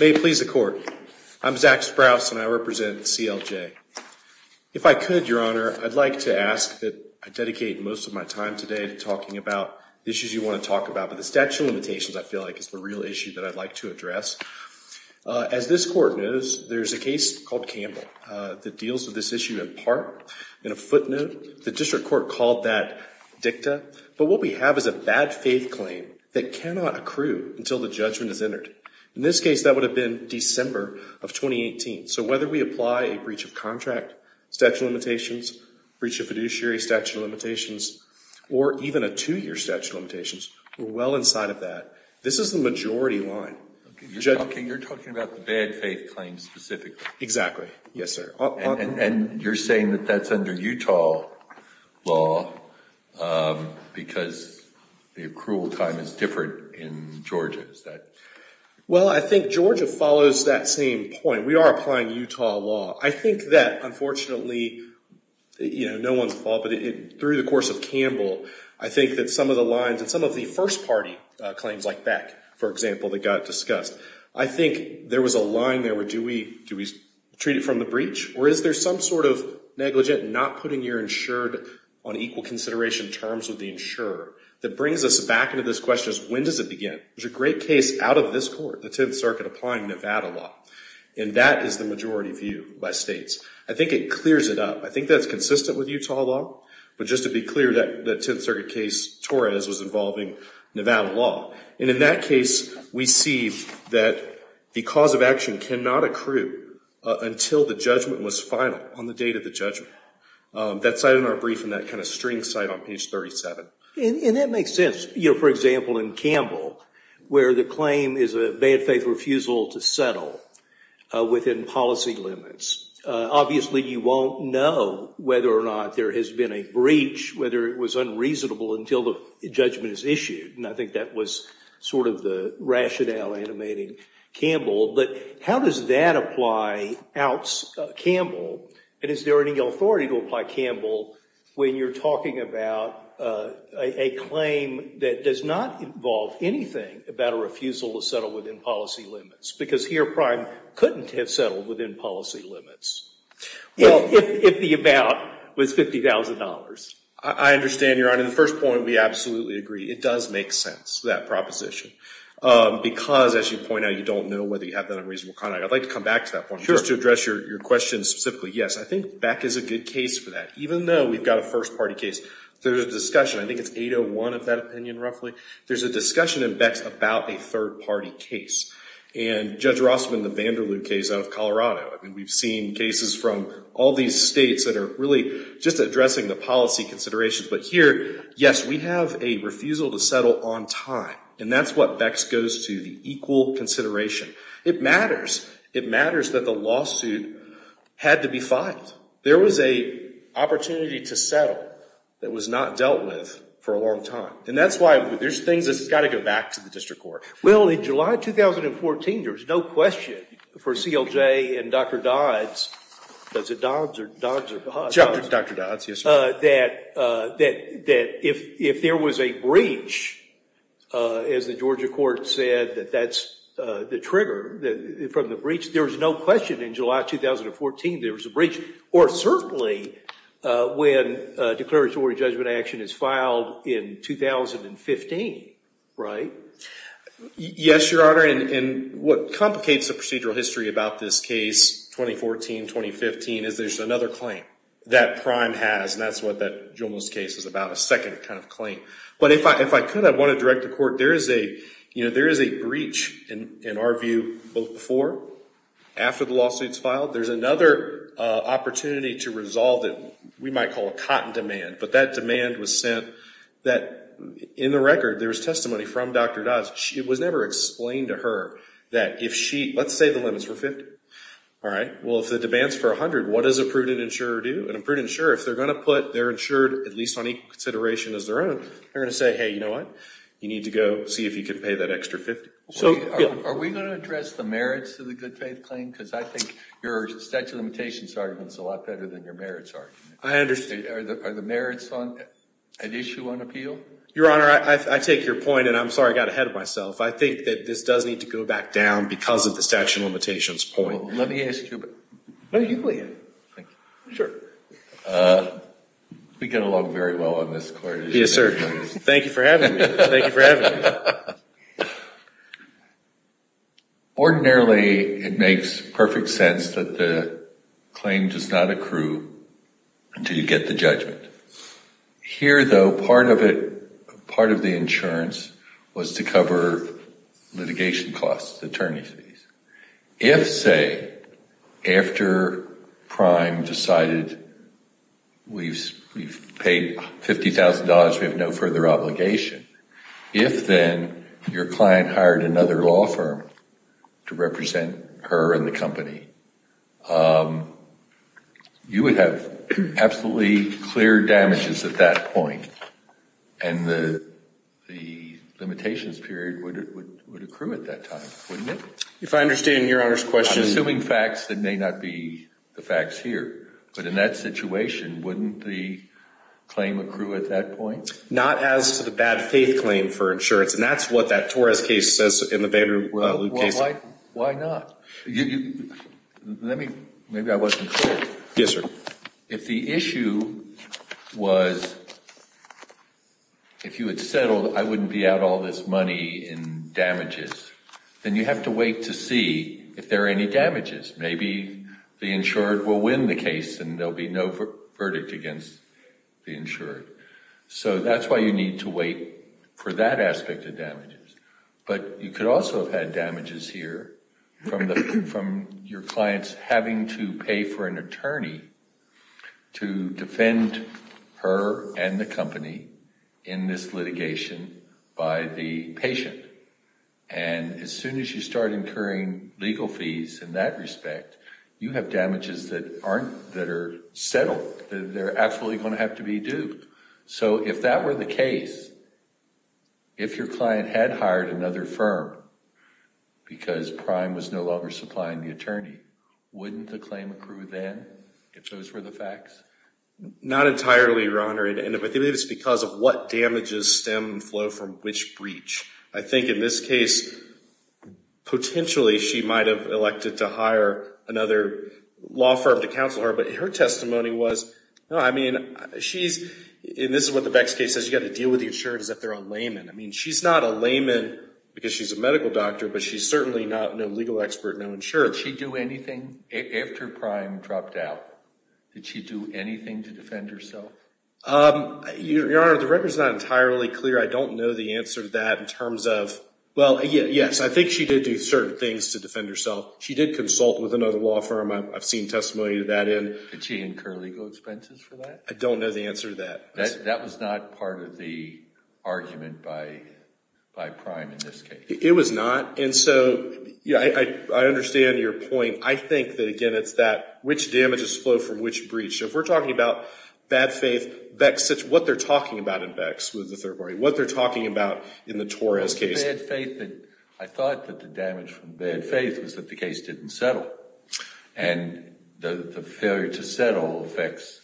May it please the Court, I'm Zach Sprouse and I represent CLJ. If I could, Your Honor, I'd like to ask that I dedicate most of my time today to talking about issues you want to talk about, but the statute of limitations I feel like is the real issue that I'd like to address. As this Court knows, there's a case called Campbell that deals with this issue in part. In a footnote, the District Court called that dicta, but what we have is a bad faith claim that cannot accrue until the judgment is entered. In this case, that would have been December of 2018. So whether we apply a breach of contract, statute of limitations, breach of fiduciary, statute of limitations, or even a two-year statute of limitations, we're well inside of that. This is the majority line. Okay, you're talking about the bad faith claim specifically. Exactly. Yes, sir. And you're saying that that's under Utah law because the accrual time is different in Georgia? Well I think Georgia follows that same point. We are applying Utah law. I think that unfortunately, you know, no one's fault, but through the course of Campbell, I think that some of the lines and some of the first party claims like Beck, for example, that got discussed, I think there was a line there where do we treat it from the breach or is there some sort of negligent not putting your insured on equal consideration terms with the insurer that brings us back into this question of when does it begin? There's a great case out of this Court, the Tenth Circuit applying Nevada law, and that is the majority view by states. I think it clears it up. I think that's consistent with Utah law, but just to be clear, that Tenth Circuit case, Torres, was involving Nevada law. And in that case, we see that the cause of action cannot accrue until the judgment was final on the date of the judgment. That's cited in our brief in that kind of string site on page 37. And that makes sense. For example, in Campbell, where the claim is a bad faith refusal to settle within policy limits. Obviously, you won't know whether or not there has been a breach, whether it was unreasonable until the judgment is issued, and I think that was sort of the rationale animating Campbell. But how does that apply out Campbell, and is there any authority to apply Campbell when you're talking about a claim that does not involve anything about a refusal to settle within policy limits? Because here, Prime couldn't have settled within policy limits if the amount was $50,000. I understand, Your Honor. The first point, we absolutely agree. It does make sense, that proposition. Because as you point out, you don't know whether you have that unreasonable conduct. I'd like to come back to that point, just to address your question specifically. Yes, I think Beck is a good case for that. Even though we've got a first-party case, there's a discussion, I think it's 801 of that opinion, roughly, there's a discussion in Beck's about a third-party case. And Judge Rossman, the Vanderloo case out of Colorado, I mean, we've seen cases from all these states that are really just addressing the policy considerations. But here, yes, we have a refusal to settle on time. And that's what Beck's goes to, the equal consideration. It matters. It matters that the lawsuit had to be filed. There was a opportunity to settle that was not dealt with for a long time. And that's why there's things that's got to go back to the district court. Well, in July 2014, there was no question for CLJ and Dr. Dodds, that if there was a breach, as the Georgia court said that that's the trigger from the breach, there was no question in July 2014 there was a breach. Or certainly, when a declaratory judgment action is filed in 2015, right? Yes, Your Honor, and what complicates the procedural history about this case, 2014-2015, is there's another claim that Prime has, and that's what that Juelmo's case is about, a second kind of claim. But if I could, I want to direct the court, there is a breach, in our view, both before and after the lawsuit's filed. There's another opportunity to resolve it. We might call it cotton demand, but that demand was sent that, in the record, there was testimony from Dr. Dodds. It was never explained to her that if she, let's say the limit's for 50, all right? Well, if the demand's for 100, what does a prudent insurer do? And a prudent insurer, if they're going to put their insured, at least on equal consideration as their own, they're going to say, hey, you know what? You need to go see if you can pay that extra 50. Are we going to address the merits of the good faith claim? Because I think your statute of limitations argument's a lot better than your merits argument. I understand. Are the merits an issue on appeal? Your Honor, I take your point, and I'm sorry I got ahead of myself. I think that this does need to go back down because of the statute of limitations point. Let me ask you about, no, you, Leigh Ann. Sure. We get along very well on this court. Yes, sir. Thank you for having me. Ordinarily, it makes perfect sense that the claim does not accrue until you get the judgment. Here, though, part of it, part of the insurance was to cover litigation costs, attorney fees. If, say, after Prime decided we've paid $50,000, we have no further obligation, if then your client hired another law firm to represent her and the company, you would have absolutely clear damages at that point, and the limitations period would accrue at that time, wouldn't it? If I understand your Honor's question— I'm assuming facts that may not be the facts here, but in that situation, wouldn't the claim accrue at that point? Not as to the bad faith claim for insurance, and that's what that Torres case says in the Vanderloop case. Why not? Let me—maybe I wasn't clear. Yes, sir. If the issue was, if you had settled, I wouldn't be out all this money in damages, then you have to wait to see if there are any damages. Maybe the insured will win the case and there will be no verdict against the insured. So that's why you need to wait for that aspect of damages. But you could also have had damages here from your clients having to pay for an attorney to defend her and the company in this litigation by the patient. And as soon as you start incurring legal fees in that respect, you have damages that are settled, that are actually going to have to be due. So if that were the case, if your client had hired another firm because Prime was no longer supplying the attorney, wouldn't the claim accrue then if those were the facts? Not entirely, Your Honor, and I think it's because of what damages stem and flow from which breach. I think in this case, potentially she might have elected to hire another law firm to counsel her, but her testimony was, no, I mean, she's, and this is what the Beck's case says, you've got to deal with the insured as if they're a layman. I mean, she's not a layman because she's a medical doctor, but she's certainly not no legal expert, no insured. Did she do anything after Prime dropped out? Did she do anything to defend herself? Your Honor, the record's not entirely clear. I don't know the answer to that in terms of, well, yes, I think she did do certain things to defend herself. She did consult with another law firm. I've seen testimony to that end. Did she incur legal expenses for that? I don't know the answer to that. That was not part of the argument by Prime in this case. It was not, and so I understand your point. I think that, again, it's that which damages flow from which breach. If we're talking about bad faith, what they're talking about in Beck's with the third party, what they're talking about in the Torres case. I thought that the damage from bad faith was that the case didn't settle, and the failure to settle affects,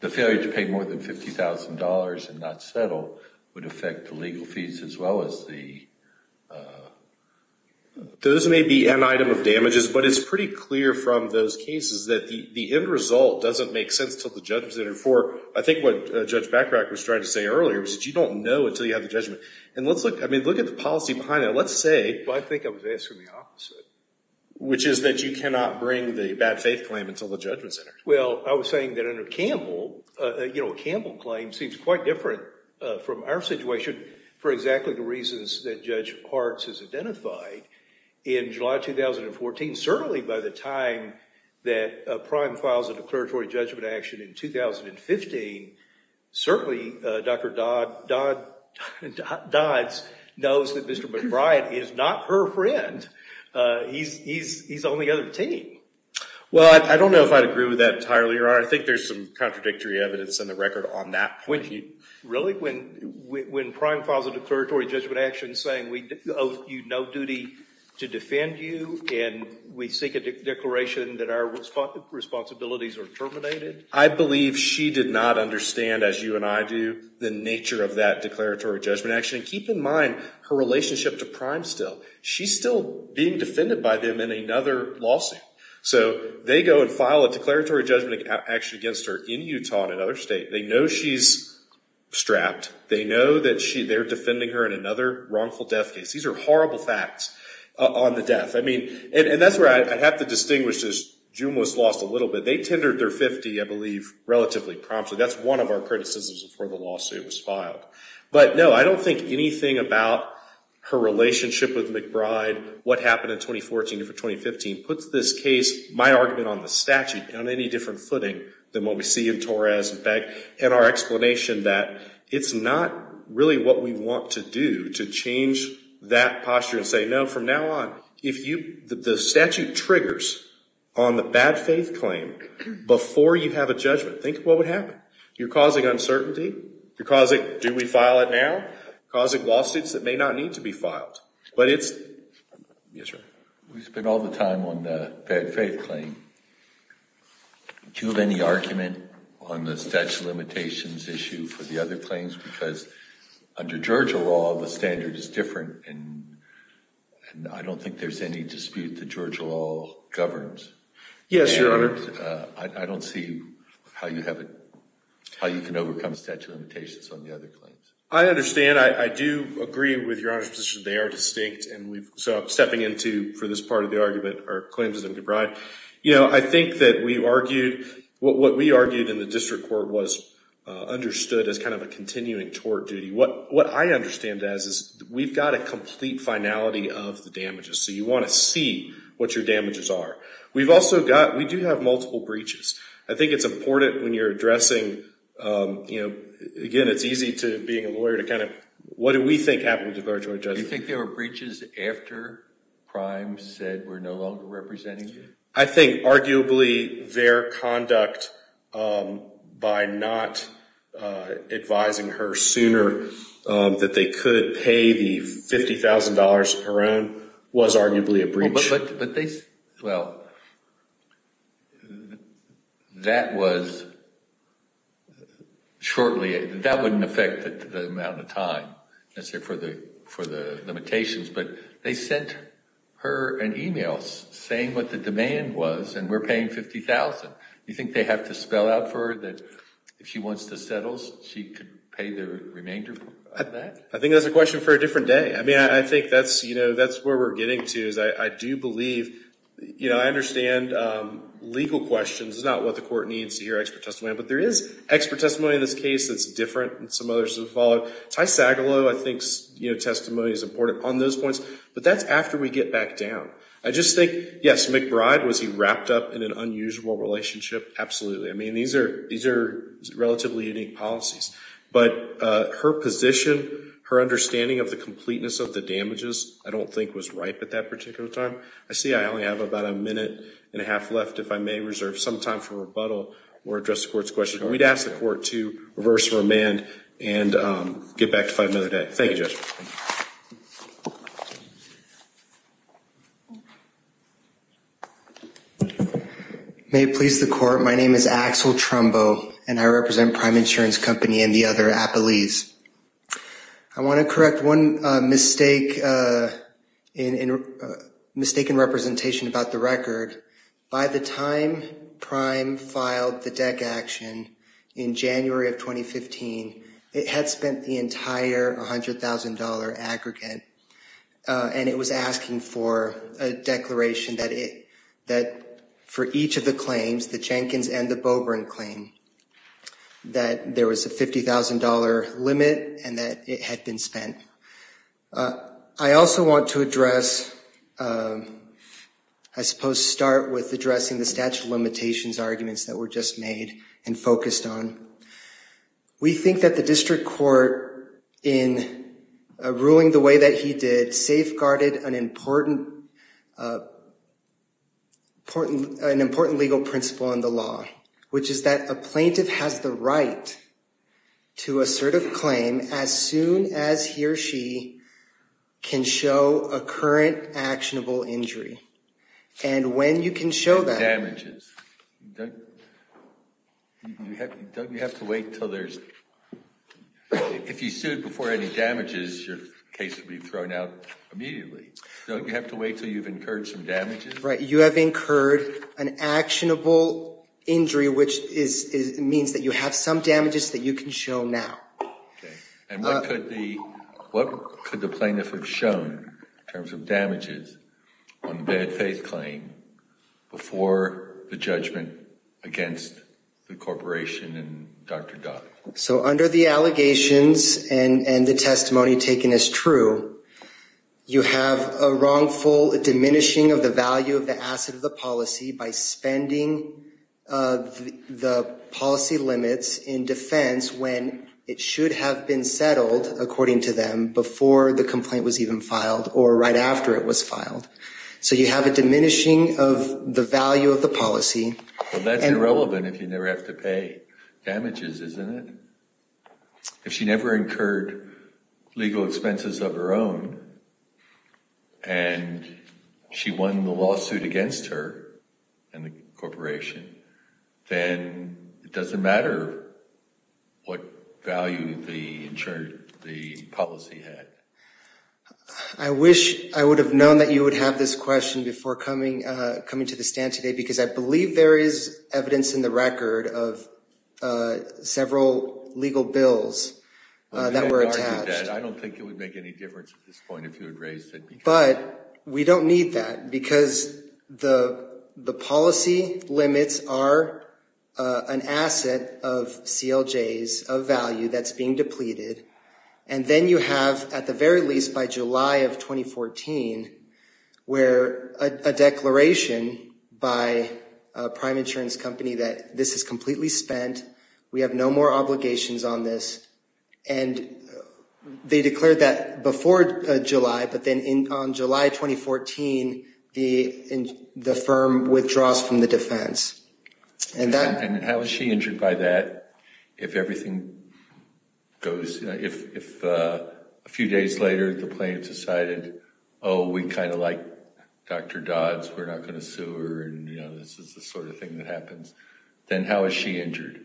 the failure to pay more than $50,000 and not settle would affect the legal fees as well as the... The end result doesn't make sense until the judgment's entered for... I think what Judge Bacharach was trying to say earlier was that you don't know until you have the judgment. And let's look at the policy behind that. Let's say... I think I was asking the opposite. Which is that you cannot bring the bad faith claim until the judgment's entered. Well, I was saying that under Campbell, a Campbell claim seems quite different from our situation for exactly the reasons that Judge Hartz has identified. In July 2014, certainly by the time that Prime files a declaratory judgment action in 2015, certainly Dr. Dodds knows that Mr. McBride is not her friend. He's on the other team. Well, I don't know if I'd agree with that entirely, Your Honor. I think there's some contradictory evidence in the record on that point. Really? When Prime files a declaratory judgment action saying we owe you no duty to defend you and we seek a declaration that our responsibilities are terminated? I believe she did not understand, as you and I do, the nature of that declaratory judgment action. And keep in mind her relationship to Prime still. She's still being defended by them in another lawsuit. So they go and file a declaratory judgment action against her in Utah and in another state. They know she's strapped. They know that they're defending her in another wrongful death case. These are horrible facts on the death. I mean, and that's where I have to distinguish this. June was lost a little bit. They tendered their 50, I believe, relatively promptly. That's one of our criticisms before the lawsuit was filed. But, no, I don't think anything about her relationship with McBride, what happened in 2014 to 2015, puts this case, my argument on the statute, on any different footing than what we see in Torres and Beck, and our explanation that it's not really what we want to do to change that posture and say, no, from now on, if the statute triggers on the bad faith claim before you have a judgment, think of what would happen. You're causing uncertainty. You're causing, do we file it now? Causing lawsuits that may not need to be filed. Yes, sir. We spend all the time on the bad faith claim. Do you have any argument on the statute of limitations issue for the other claims? Because under Georgia law, the standard is different, and I don't think there's any dispute that Georgia law governs. Yes, Your Honor. I don't see how you can overcome statute of limitations on the other claims. I understand. Again, I do agree with Your Honor's position. They are distinct, and so I'm stepping into, for this part of the argument, are claims of McBride. I think that we argued, what we argued in the district court was understood as kind of a continuing tort duty. What I understand as is we've got a complete finality of the damages, so you want to see what your damages are. We do have multiple breaches. I think it's important when you're addressing, again, I think it's easy to being a lawyer to kind of, what do we think happened to a Georgia judge? Do you think there were breaches after Prime said we're no longer representing you? I think arguably their conduct by not advising her sooner that they could pay the $50,000 of her own was arguably a breach. Well, that was shortly. That wouldn't affect the amount of time for the limitations, but they sent her an email saying what the demand was, and we're paying $50,000. You think they have to spell out for her that if she wants to settle, she could pay the remainder of that? I think that's a question for a different day. I think that's where we're getting to. I do believe I understand legal questions. It's not what the court needs to hear expert testimony on, but there is expert testimony in this case that's different and some others have followed. Ty Sagalow, I think, testimony is important on those points, but that's after we get back down. I just think, yes, McBride, was he wrapped up in an unusual relationship? Absolutely. These are relatively unique policies, but her position, her understanding of the completeness of the damages, I don't think was ripe at that particular time. I see I only have about a minute and a half left if I may reserve some time for rebuttal or address the court's question. We'd ask the court to reverse remand and get back to five minutes. Thank you, Judge. May it please the court. My name is Axel Trumbo, and I represent Prime Insurance Company and the other appellees. I want to correct one mistake in representation about the record. By the time Prime filed the DEC action in January of 2015, it had spent the entire $100,000 aggregate, and it was asking for a declaration that for each of the claims, the Jenkins and the Beaubrun claim, that there was a $50,000 limit and that it had been spent. I also want to address, I suppose, start with addressing the statute of limitations arguments that were just made and focused on. We think that the district court, in ruling the way that he did, safeguarded an important legal principle in the law, which is that a plaintiff has the right to assert a claim as soon as he or she can show a current actionable injury. And when you can show that... Damages. Don't you have to wait until there's... If you sued before any damages, your case would be thrown out immediately. Don't you have to wait until you've incurred some damages? Right. You have incurred an actionable injury, which means that you have some damages that you can show now. And what could the plaintiff have shown in terms of damages on the bad faith claim before the judgment against the corporation and Dr. Dodd? So under the allegations and the testimony taken as true, you have a wrongful diminishing of the value of the asset of the policy by spending the policy limits in defense when it should have been settled, according to them, before the complaint was even filed or right after it was filed. So you have a diminishing of the value of the policy. Well, that's irrelevant if you never have to pay damages, isn't it? If she never incurred legal expenses of her own and she won the lawsuit against her and the corporation, then it doesn't matter what value the policy had. I wish I would have known that you would have this question before coming to the stand today, because I believe there is evidence in the record of several legal bills that were attached. I don't think it would make any difference at this point if you had raised it. But we don't need that because the policy limits are an asset of CLJs of value that's being depleted. And then you have at the very least by July of 2014, where a declaration by a prime insurance company that this is completely spent. We have no more obligations on this. And they declared that before July, but then on July 2014, the firm withdraws from the defense. And how is she injured by that if a few days later the plaintiff decided, oh, we kind of like Dr. Dodds, we're not going to sue her, and this is the sort of thing that happens. Then how is she injured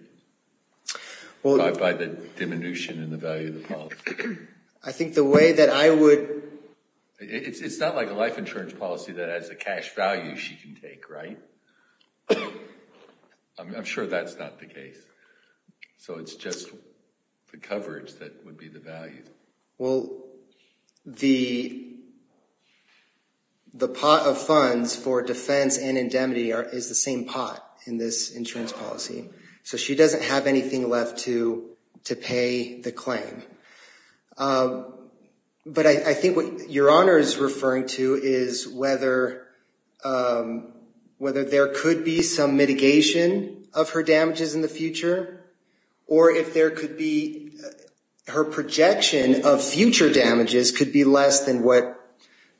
by the diminution in the value of the policy? I think the way that I would... It's not like a life insurance policy that has a cash value she can take, right? I'm sure that's not the case. So it's just the coverage that would be the value. Well, the pot of funds for defense and indemnity is the same pot in this insurance policy. So she doesn't have anything left to pay the claim. But I think what Your Honor is referring to is whether there could be some mitigation of her damages in the future, or if there could be her projection of future damages could be less than what,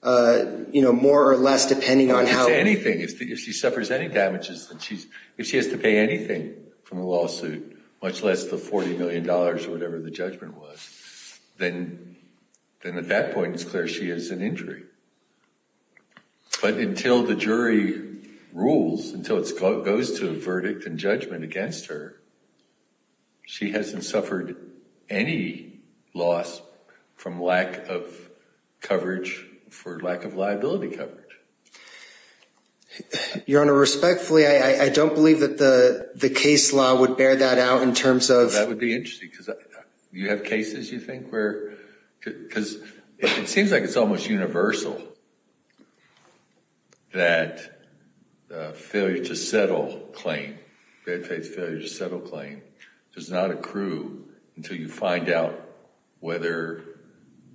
more or less depending on how... If she suffers any damages, if she has to pay anything from the lawsuit, much less the $40 million or whatever the judgment was, then at that point it's clear she has an injury. But until the jury rules, until it goes to a verdict and judgment against her, she hasn't suffered any loss from lack of coverage for lack of liability coverage. Your Honor, respectfully, I don't believe that the case law would bear that out in terms of... That would be interesting because you have cases, you think, where... Because it seems like it's almost universal that the failure to settle claim, bad faith failure to settle claim, does not accrue until you find out whether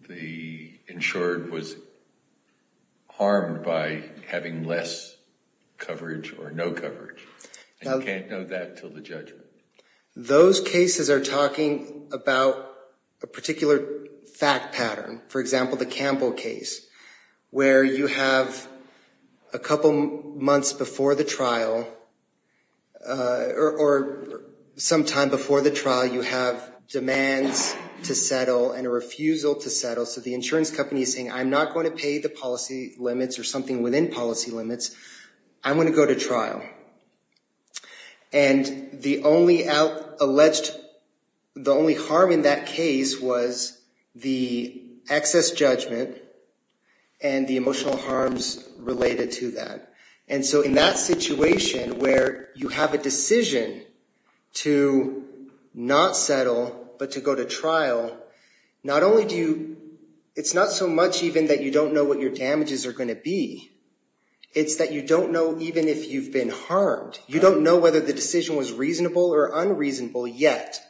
the insured was harmed by having less coverage or no coverage. And you can't know that until the judgment. Those cases are talking about a particular fact pattern. For example, the Campbell case, where you have a couple months before the trial, or some time before the trial, you have demands to settle and a refusal to settle. So the insurance company is saying, I'm not going to pay the policy limits or something within policy limits. I'm going to go to trial. And the only alleged... The only harm in that case was the excess judgment and the emotional harms related to that. And so in that situation where you have a decision to not settle but to go to trial, not only do you... It's not so much even that you don't know what your damages are going to be. It's that you don't know even if you've been harmed. You don't know whether the decision was reasonable or unreasonable yet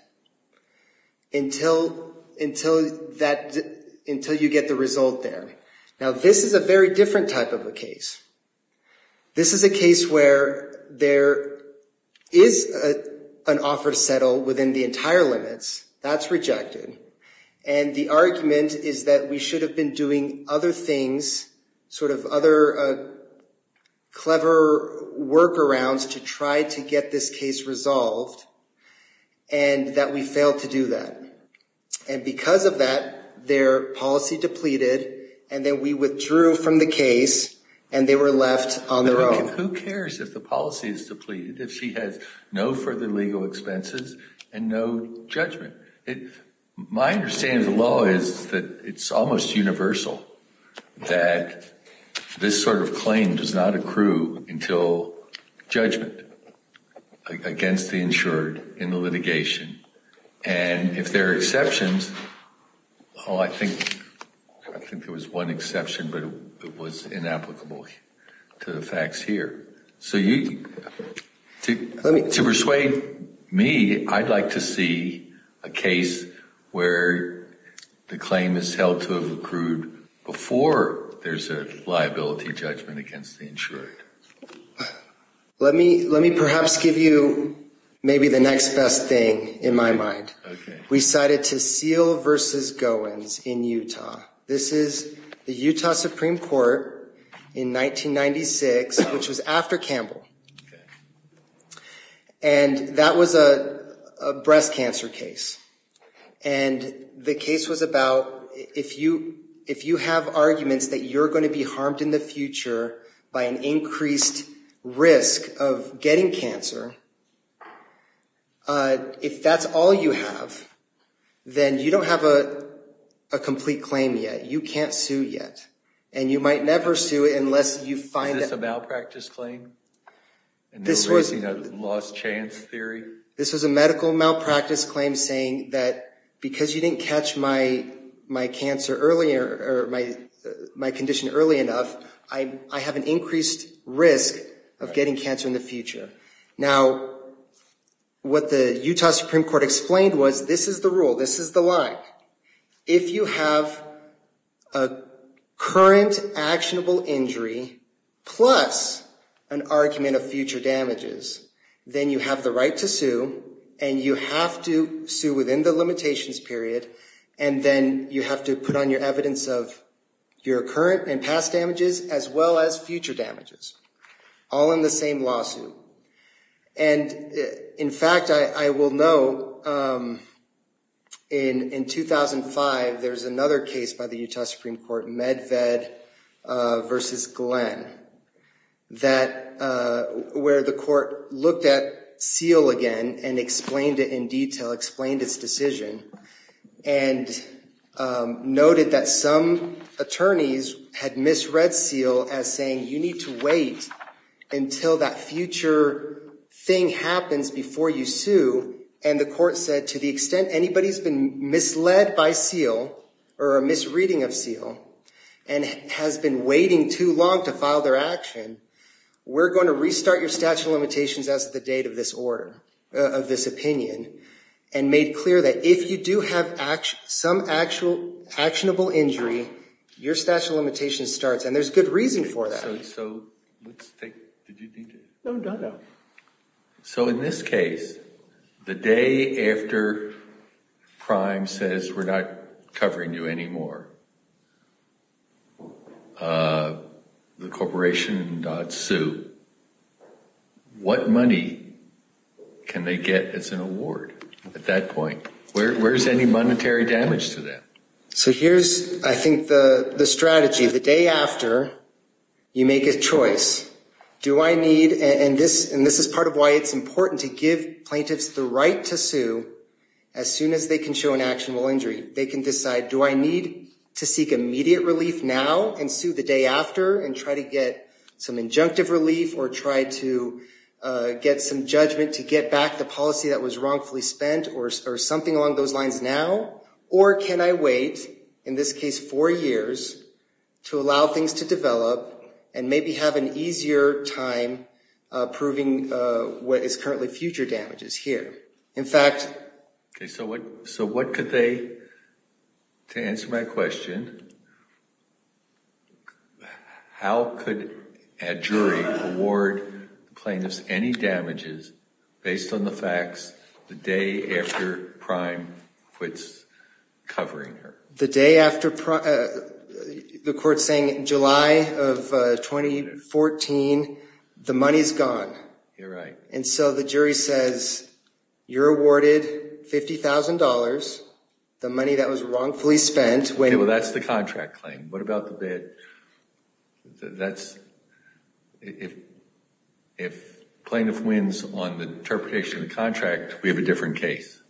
until you get the result there. Now, this is a very different type of a case. This is a case where there is an offer to settle within the entire limits. That's rejected. And the argument is that we should have been doing other things, sort of other clever workarounds to try to get this case resolved and that we failed to do that. And because of that, their policy depleted, and then we withdrew from the case, Who cares if the policy is depleted if she has no further legal expenses and no judgment? My understanding of the law is that it's almost universal, that this sort of claim does not accrue until judgment against the insured in the litigation. And if there are exceptions, I think there was one exception, but it was inapplicable to the facts here. So to persuade me, I'd like to see a case where the claim is held to have accrued before there's a liability judgment against the insured. Let me perhaps give you maybe the next best thing in my mind. We cited Taseel v. Goins in Utah. This is the Utah Supreme Court in 1996, which was after Campbell. And that was a breast cancer case. And the case was about if you have arguments that you're going to be harmed in the future by an increased risk of getting cancer, if that's all you have, then you don't have a complete claim yet. You can't sue yet. And you might never sue unless you find that... Is this a malpractice claim? And you're raising a lost chance theory? This was a medical malpractice claim saying that because you didn't catch my condition early enough, I have an increased risk of getting cancer in the future. Now, what the Utah Supreme Court explained was this is the rule, this is the line. If you have a current actionable injury plus an argument of future damages, then you have the right to sue, and you have to sue within the limitations period, and then you have to put on your evidence of your current and past damages as well as future damages, all in the same lawsuit. And, in fact, I will note, in 2005, there was another case by the Utah Supreme Court, Medved v. Glenn, where the court looked at Seale again and explained it in detail, explained its decision, and noted that some attorneys had misread Seale as saying, you need to wait until that future thing happens before you sue. And the court said, to the extent anybody's been misled by Seale or a misreading of Seale and has been waiting too long to file their action, we're going to restart your statute of limitations as of the date of this order, of this opinion, and made clear that if you do have some actionable injury, your statute of limitations starts. And there's good reason for that. So in this case, the day after Prime says, we're not covering you anymore, the corporation dots sue, what money can they get as an award at that point? Where's any monetary damage to that? So here's, I think, the strategy. The day after, you make a choice. Do I need, and this is part of why it's important to give plaintiffs the right to sue, as soon as they can show an actionable injury. They can decide, do I need to seek immediate relief now and sue the day after and try to get some injunctive relief or try to get some judgment to get back the policy that was wrongfully spent or something along those lines now? Or can I wait, in this case four years, to allow things to develop and maybe have an easier time proving what is currently future damages here? In fact... Okay, so what could they, to answer my question, how could a jury award plaintiffs any damages based on the facts the day after Prime quits covering her? The day after Prime, the court's saying July of 2014, the money's gone. You're right. And so the jury says, you're awarded $50,000, the money that was wrongfully spent. Well, that's the contract claim. What about the bad, that's, if plaintiff wins on the interpretation of the contract, we have a different case.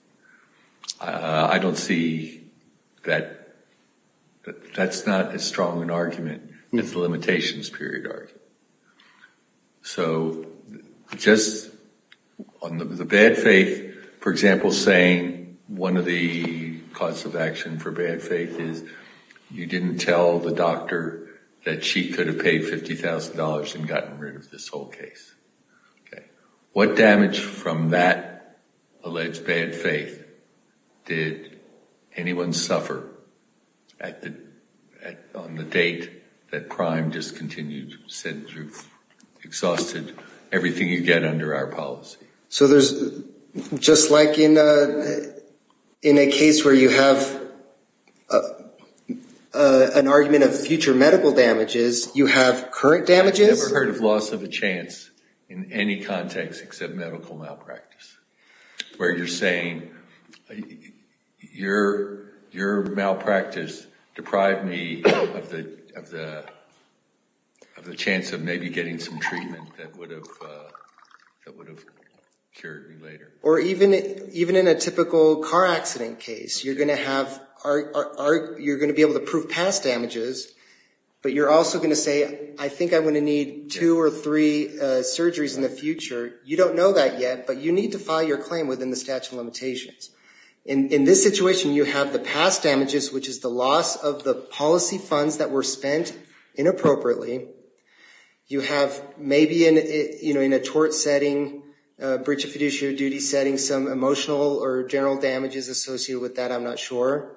I don't see that, that's not as strong an argument as the limitations period argument. So just on the bad faith, for example, saying one of the cause of action for bad faith is you didn't tell the doctor that she could have paid $50,000 and gotten rid of this whole case. What damage from that alleged bad faith did anyone suffer on the date that Prime discontinued, said you've exhausted everything you get under our policy? So there's, just like in a case where you have an argument of future medical damages, you have current damages? I've never heard of loss of a chance in any context except medical malpractice, where you're saying your malpractice deprived me of the chance of maybe getting some treatment that would have cured me later. Or even in a typical car accident case, you're going to have, you're going to be able to prove past damages, but you're also going to say, I think I'm going to need two or three surgeries in the future. You don't know that yet, but you need to file your claim within the statute of limitations. In this situation, you have the past damages, which is the loss of the policy funds that were spent inappropriately. You have maybe in a tort setting, a breach of fiduciary duty setting, some emotional or general damages associated with that, I'm not sure.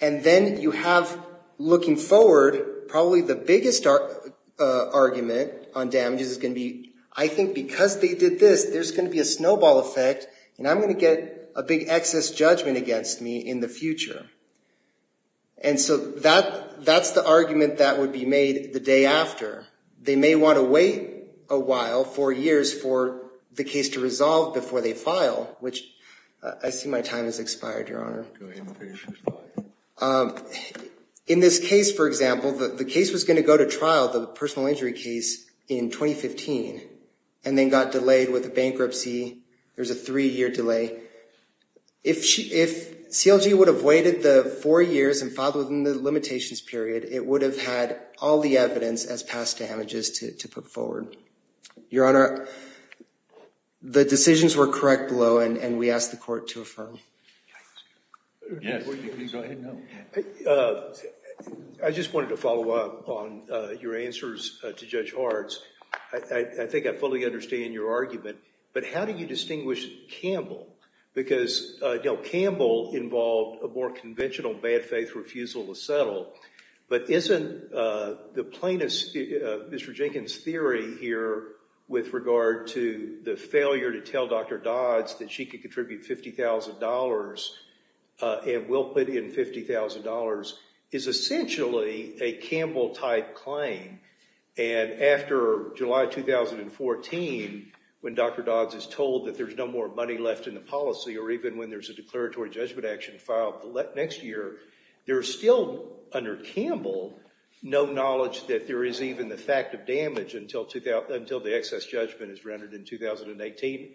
And then you have, looking forward, probably the biggest argument on damages is going to be, I think because they did this, there's going to be a snowball effect, and I'm going to get a big excess judgment against me in the future. And so that's the argument that would be made the day after. They may want to wait a while, four years, for the case to resolve before they file, which I see my time has expired, Your Honor. In this case, for example, the case was going to go to trial, the personal injury case, in 2015, and then got delayed with a bankruptcy. There's a three-year delay. If CLG would have waited the four years and filed within the limitations period, it would have had all the evidence as past damages to put forward. Your Honor, the decisions were correct below, and we ask the court to affirm. Yes, please go ahead. I just wanted to follow up on your answers to Judge Hartz. I think I fully understand your argument, but how do you distinguish Campbell? Because, you know, Campbell involved a more conventional bad faith refusal to settle, but isn't the plaintiff's—Mr. Jenkins' theory here with regard to the failure to tell Dr. Dodds that she could contribute $50,000 and will put in $50,000 is essentially a Campbell-type claim. And after July 2014, when Dr. Dodds is told that there's no more money left in the policy, or even when there's a declaratory judgment action filed next year, there's still, under Campbell, no knowledge that there is even the fact of damage until the excess judgment is rendered in 2018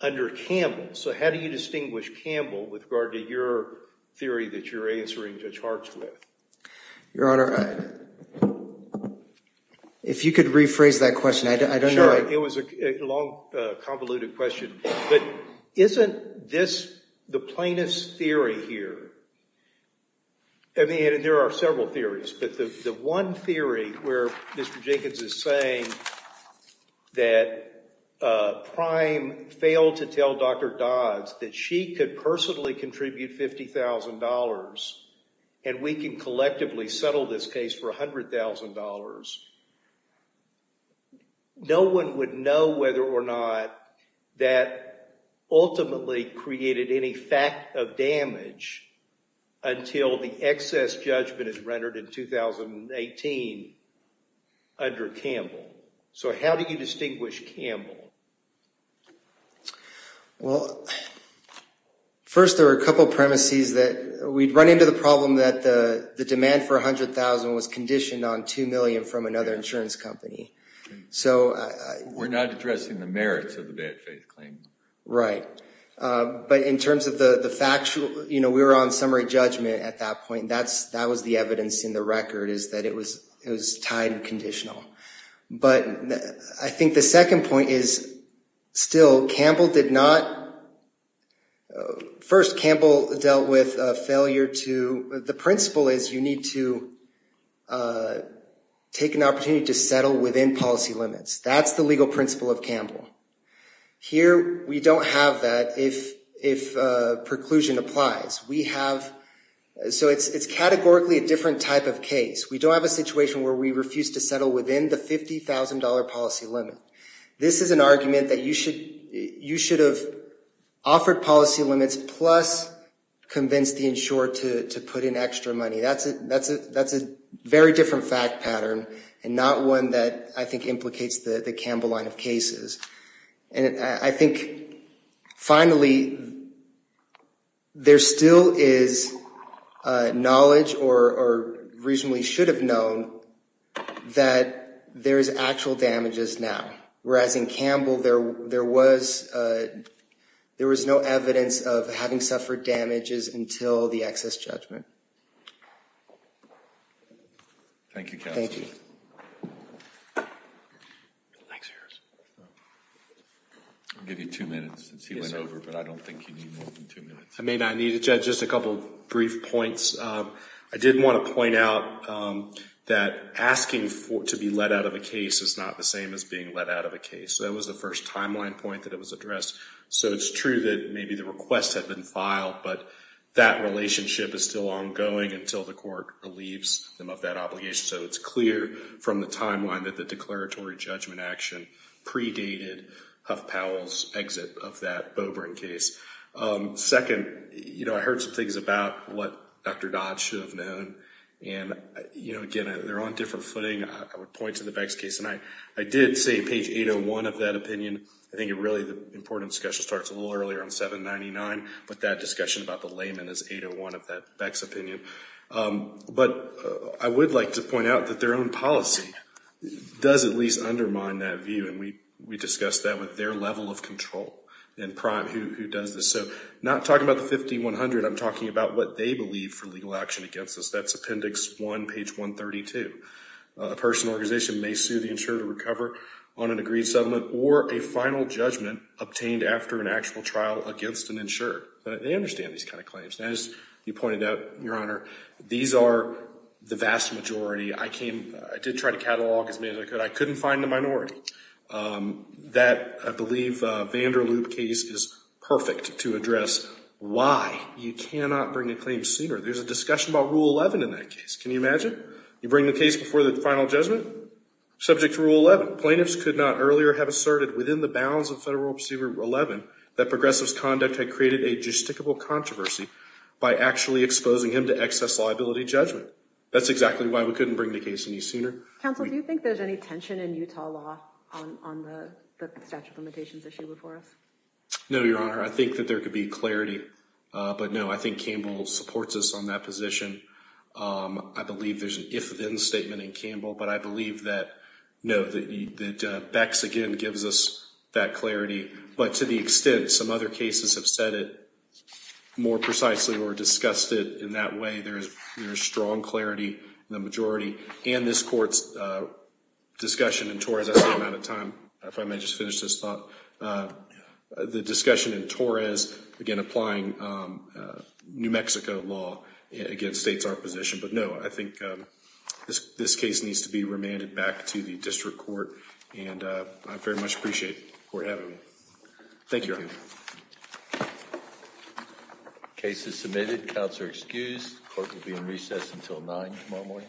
under Campbell. So how do you distinguish Campbell with regard to your theory that you're answering Judge Hartz with? Your Honor, if you could rephrase that question. Sure. It was a long, convoluted question. But isn't this the plaintiff's theory here? I mean, there are several theories, but the one theory where Mr. Jenkins is saying that Prime failed to tell Dr. Dodds that she could personally contribute $50,000 and we can collectively settle this case for $100,000, no one would know whether or not that ultimately created any fact of damage until the excess judgment is rendered in 2018 under Campbell. So how do you distinguish Campbell? Well, first there are a couple premises that we'd run into the problem that the demand for $100,000 was conditioned on $2 million from another insurance company. We're not addressing the merits of the bad faith claim. Right. But in terms of the factual, you know, we were on summary judgment at that point. That was the evidence in the record is that it was tied and conditional. But I think the second point is still Campbell did not... First, Campbell dealt with a failure to... The principle is you need to take an opportunity to settle within policy limits. That's the legal principle of Campbell. Here, we don't have that if preclusion applies. We have... So it's categorically a different type of case. We don't have a situation where we refuse to settle within the $50,000 policy limit. This is an argument that you should have offered policy limits plus convinced the insurer to put in extra money. That's a very different fact pattern and not one that I think implicates the Campbell line of cases. And I think, finally, there still is knowledge or reasonably should have known that there is actual damages now. Whereas in Campbell, there was no evidence of having suffered damages until the excess judgment. Thank you, counsel. I'll give you two minutes since he went over, but I don't think you need more than two minutes. I may not need it, Judge. Just a couple of brief points. I did want to point out that asking to be let out of a case is not the same as being let out of a case. So that was the first timeline point that it was addressed. So it's true that maybe the request had been filed, but that relationship is still ongoing until the court relieves them of that obligation. So it's clear from the timeline that the declaratory judgment action predated Huff Powell's exit of that Boebring case. Second, you know, I heard some things about what Dr. Dodd should have known. And, you know, again, they're on different footing. I would point to the Beggs case. And I did say page 801 of that opinion. I think really the important discussion starts a little earlier on 799, but that discussion about the layman is 801 of that Beggs opinion. But I would like to point out that their own policy does at least undermine that view. And we discussed that with their level of control and prime who does this. So not talking about the 5100, I'm talking about what they believe for legal action against us. That's Appendix 1, page 132. A person or organization may sue the insurer to recover on an agreed settlement or a final judgment obtained after an actual trial against an insurer. They understand these kind of claims. And as you pointed out, Your Honor, these are the vast majority. I did try to catalog as many as I could. I couldn't find the minority. That, I believe, Vanderloop case is perfect to address why you cannot bring a claim sooner. There's a discussion about Rule 11 in that case. Can you imagine? You bring the case before the final judgment, subject to Rule 11. Plaintiffs could not earlier have asserted within the bounds of Federal Rule Procedure 11 that progressives' conduct had created a justicable controversy by actually exposing him to excess liability judgment. That's exactly why we couldn't bring the case any sooner. Counsel, do you think there's any tension in Utah law on the statute of limitations issue before us? No, Your Honor. I think that there could be clarity. But no, I think Campbell supports us on that position. I believe there's an if-then statement in Campbell, but I believe that Beck's, again, gives us that clarity. But to the extent some other cases have said it more precisely or discussed it in that way, there is strong clarity in the majority. And this Court's discussion in Torres, I'm out of time. If I may just finish this thought. The discussion in Torres, again, applying New Mexico law, again, states our position. But no, I think this case needs to be remanded back to the District Court. And I very much appreciate the Court having me. Thank you, Your Honor. Case is submitted. Counts are excused. Court will be in recess until 9 tomorrow morning. Thank you.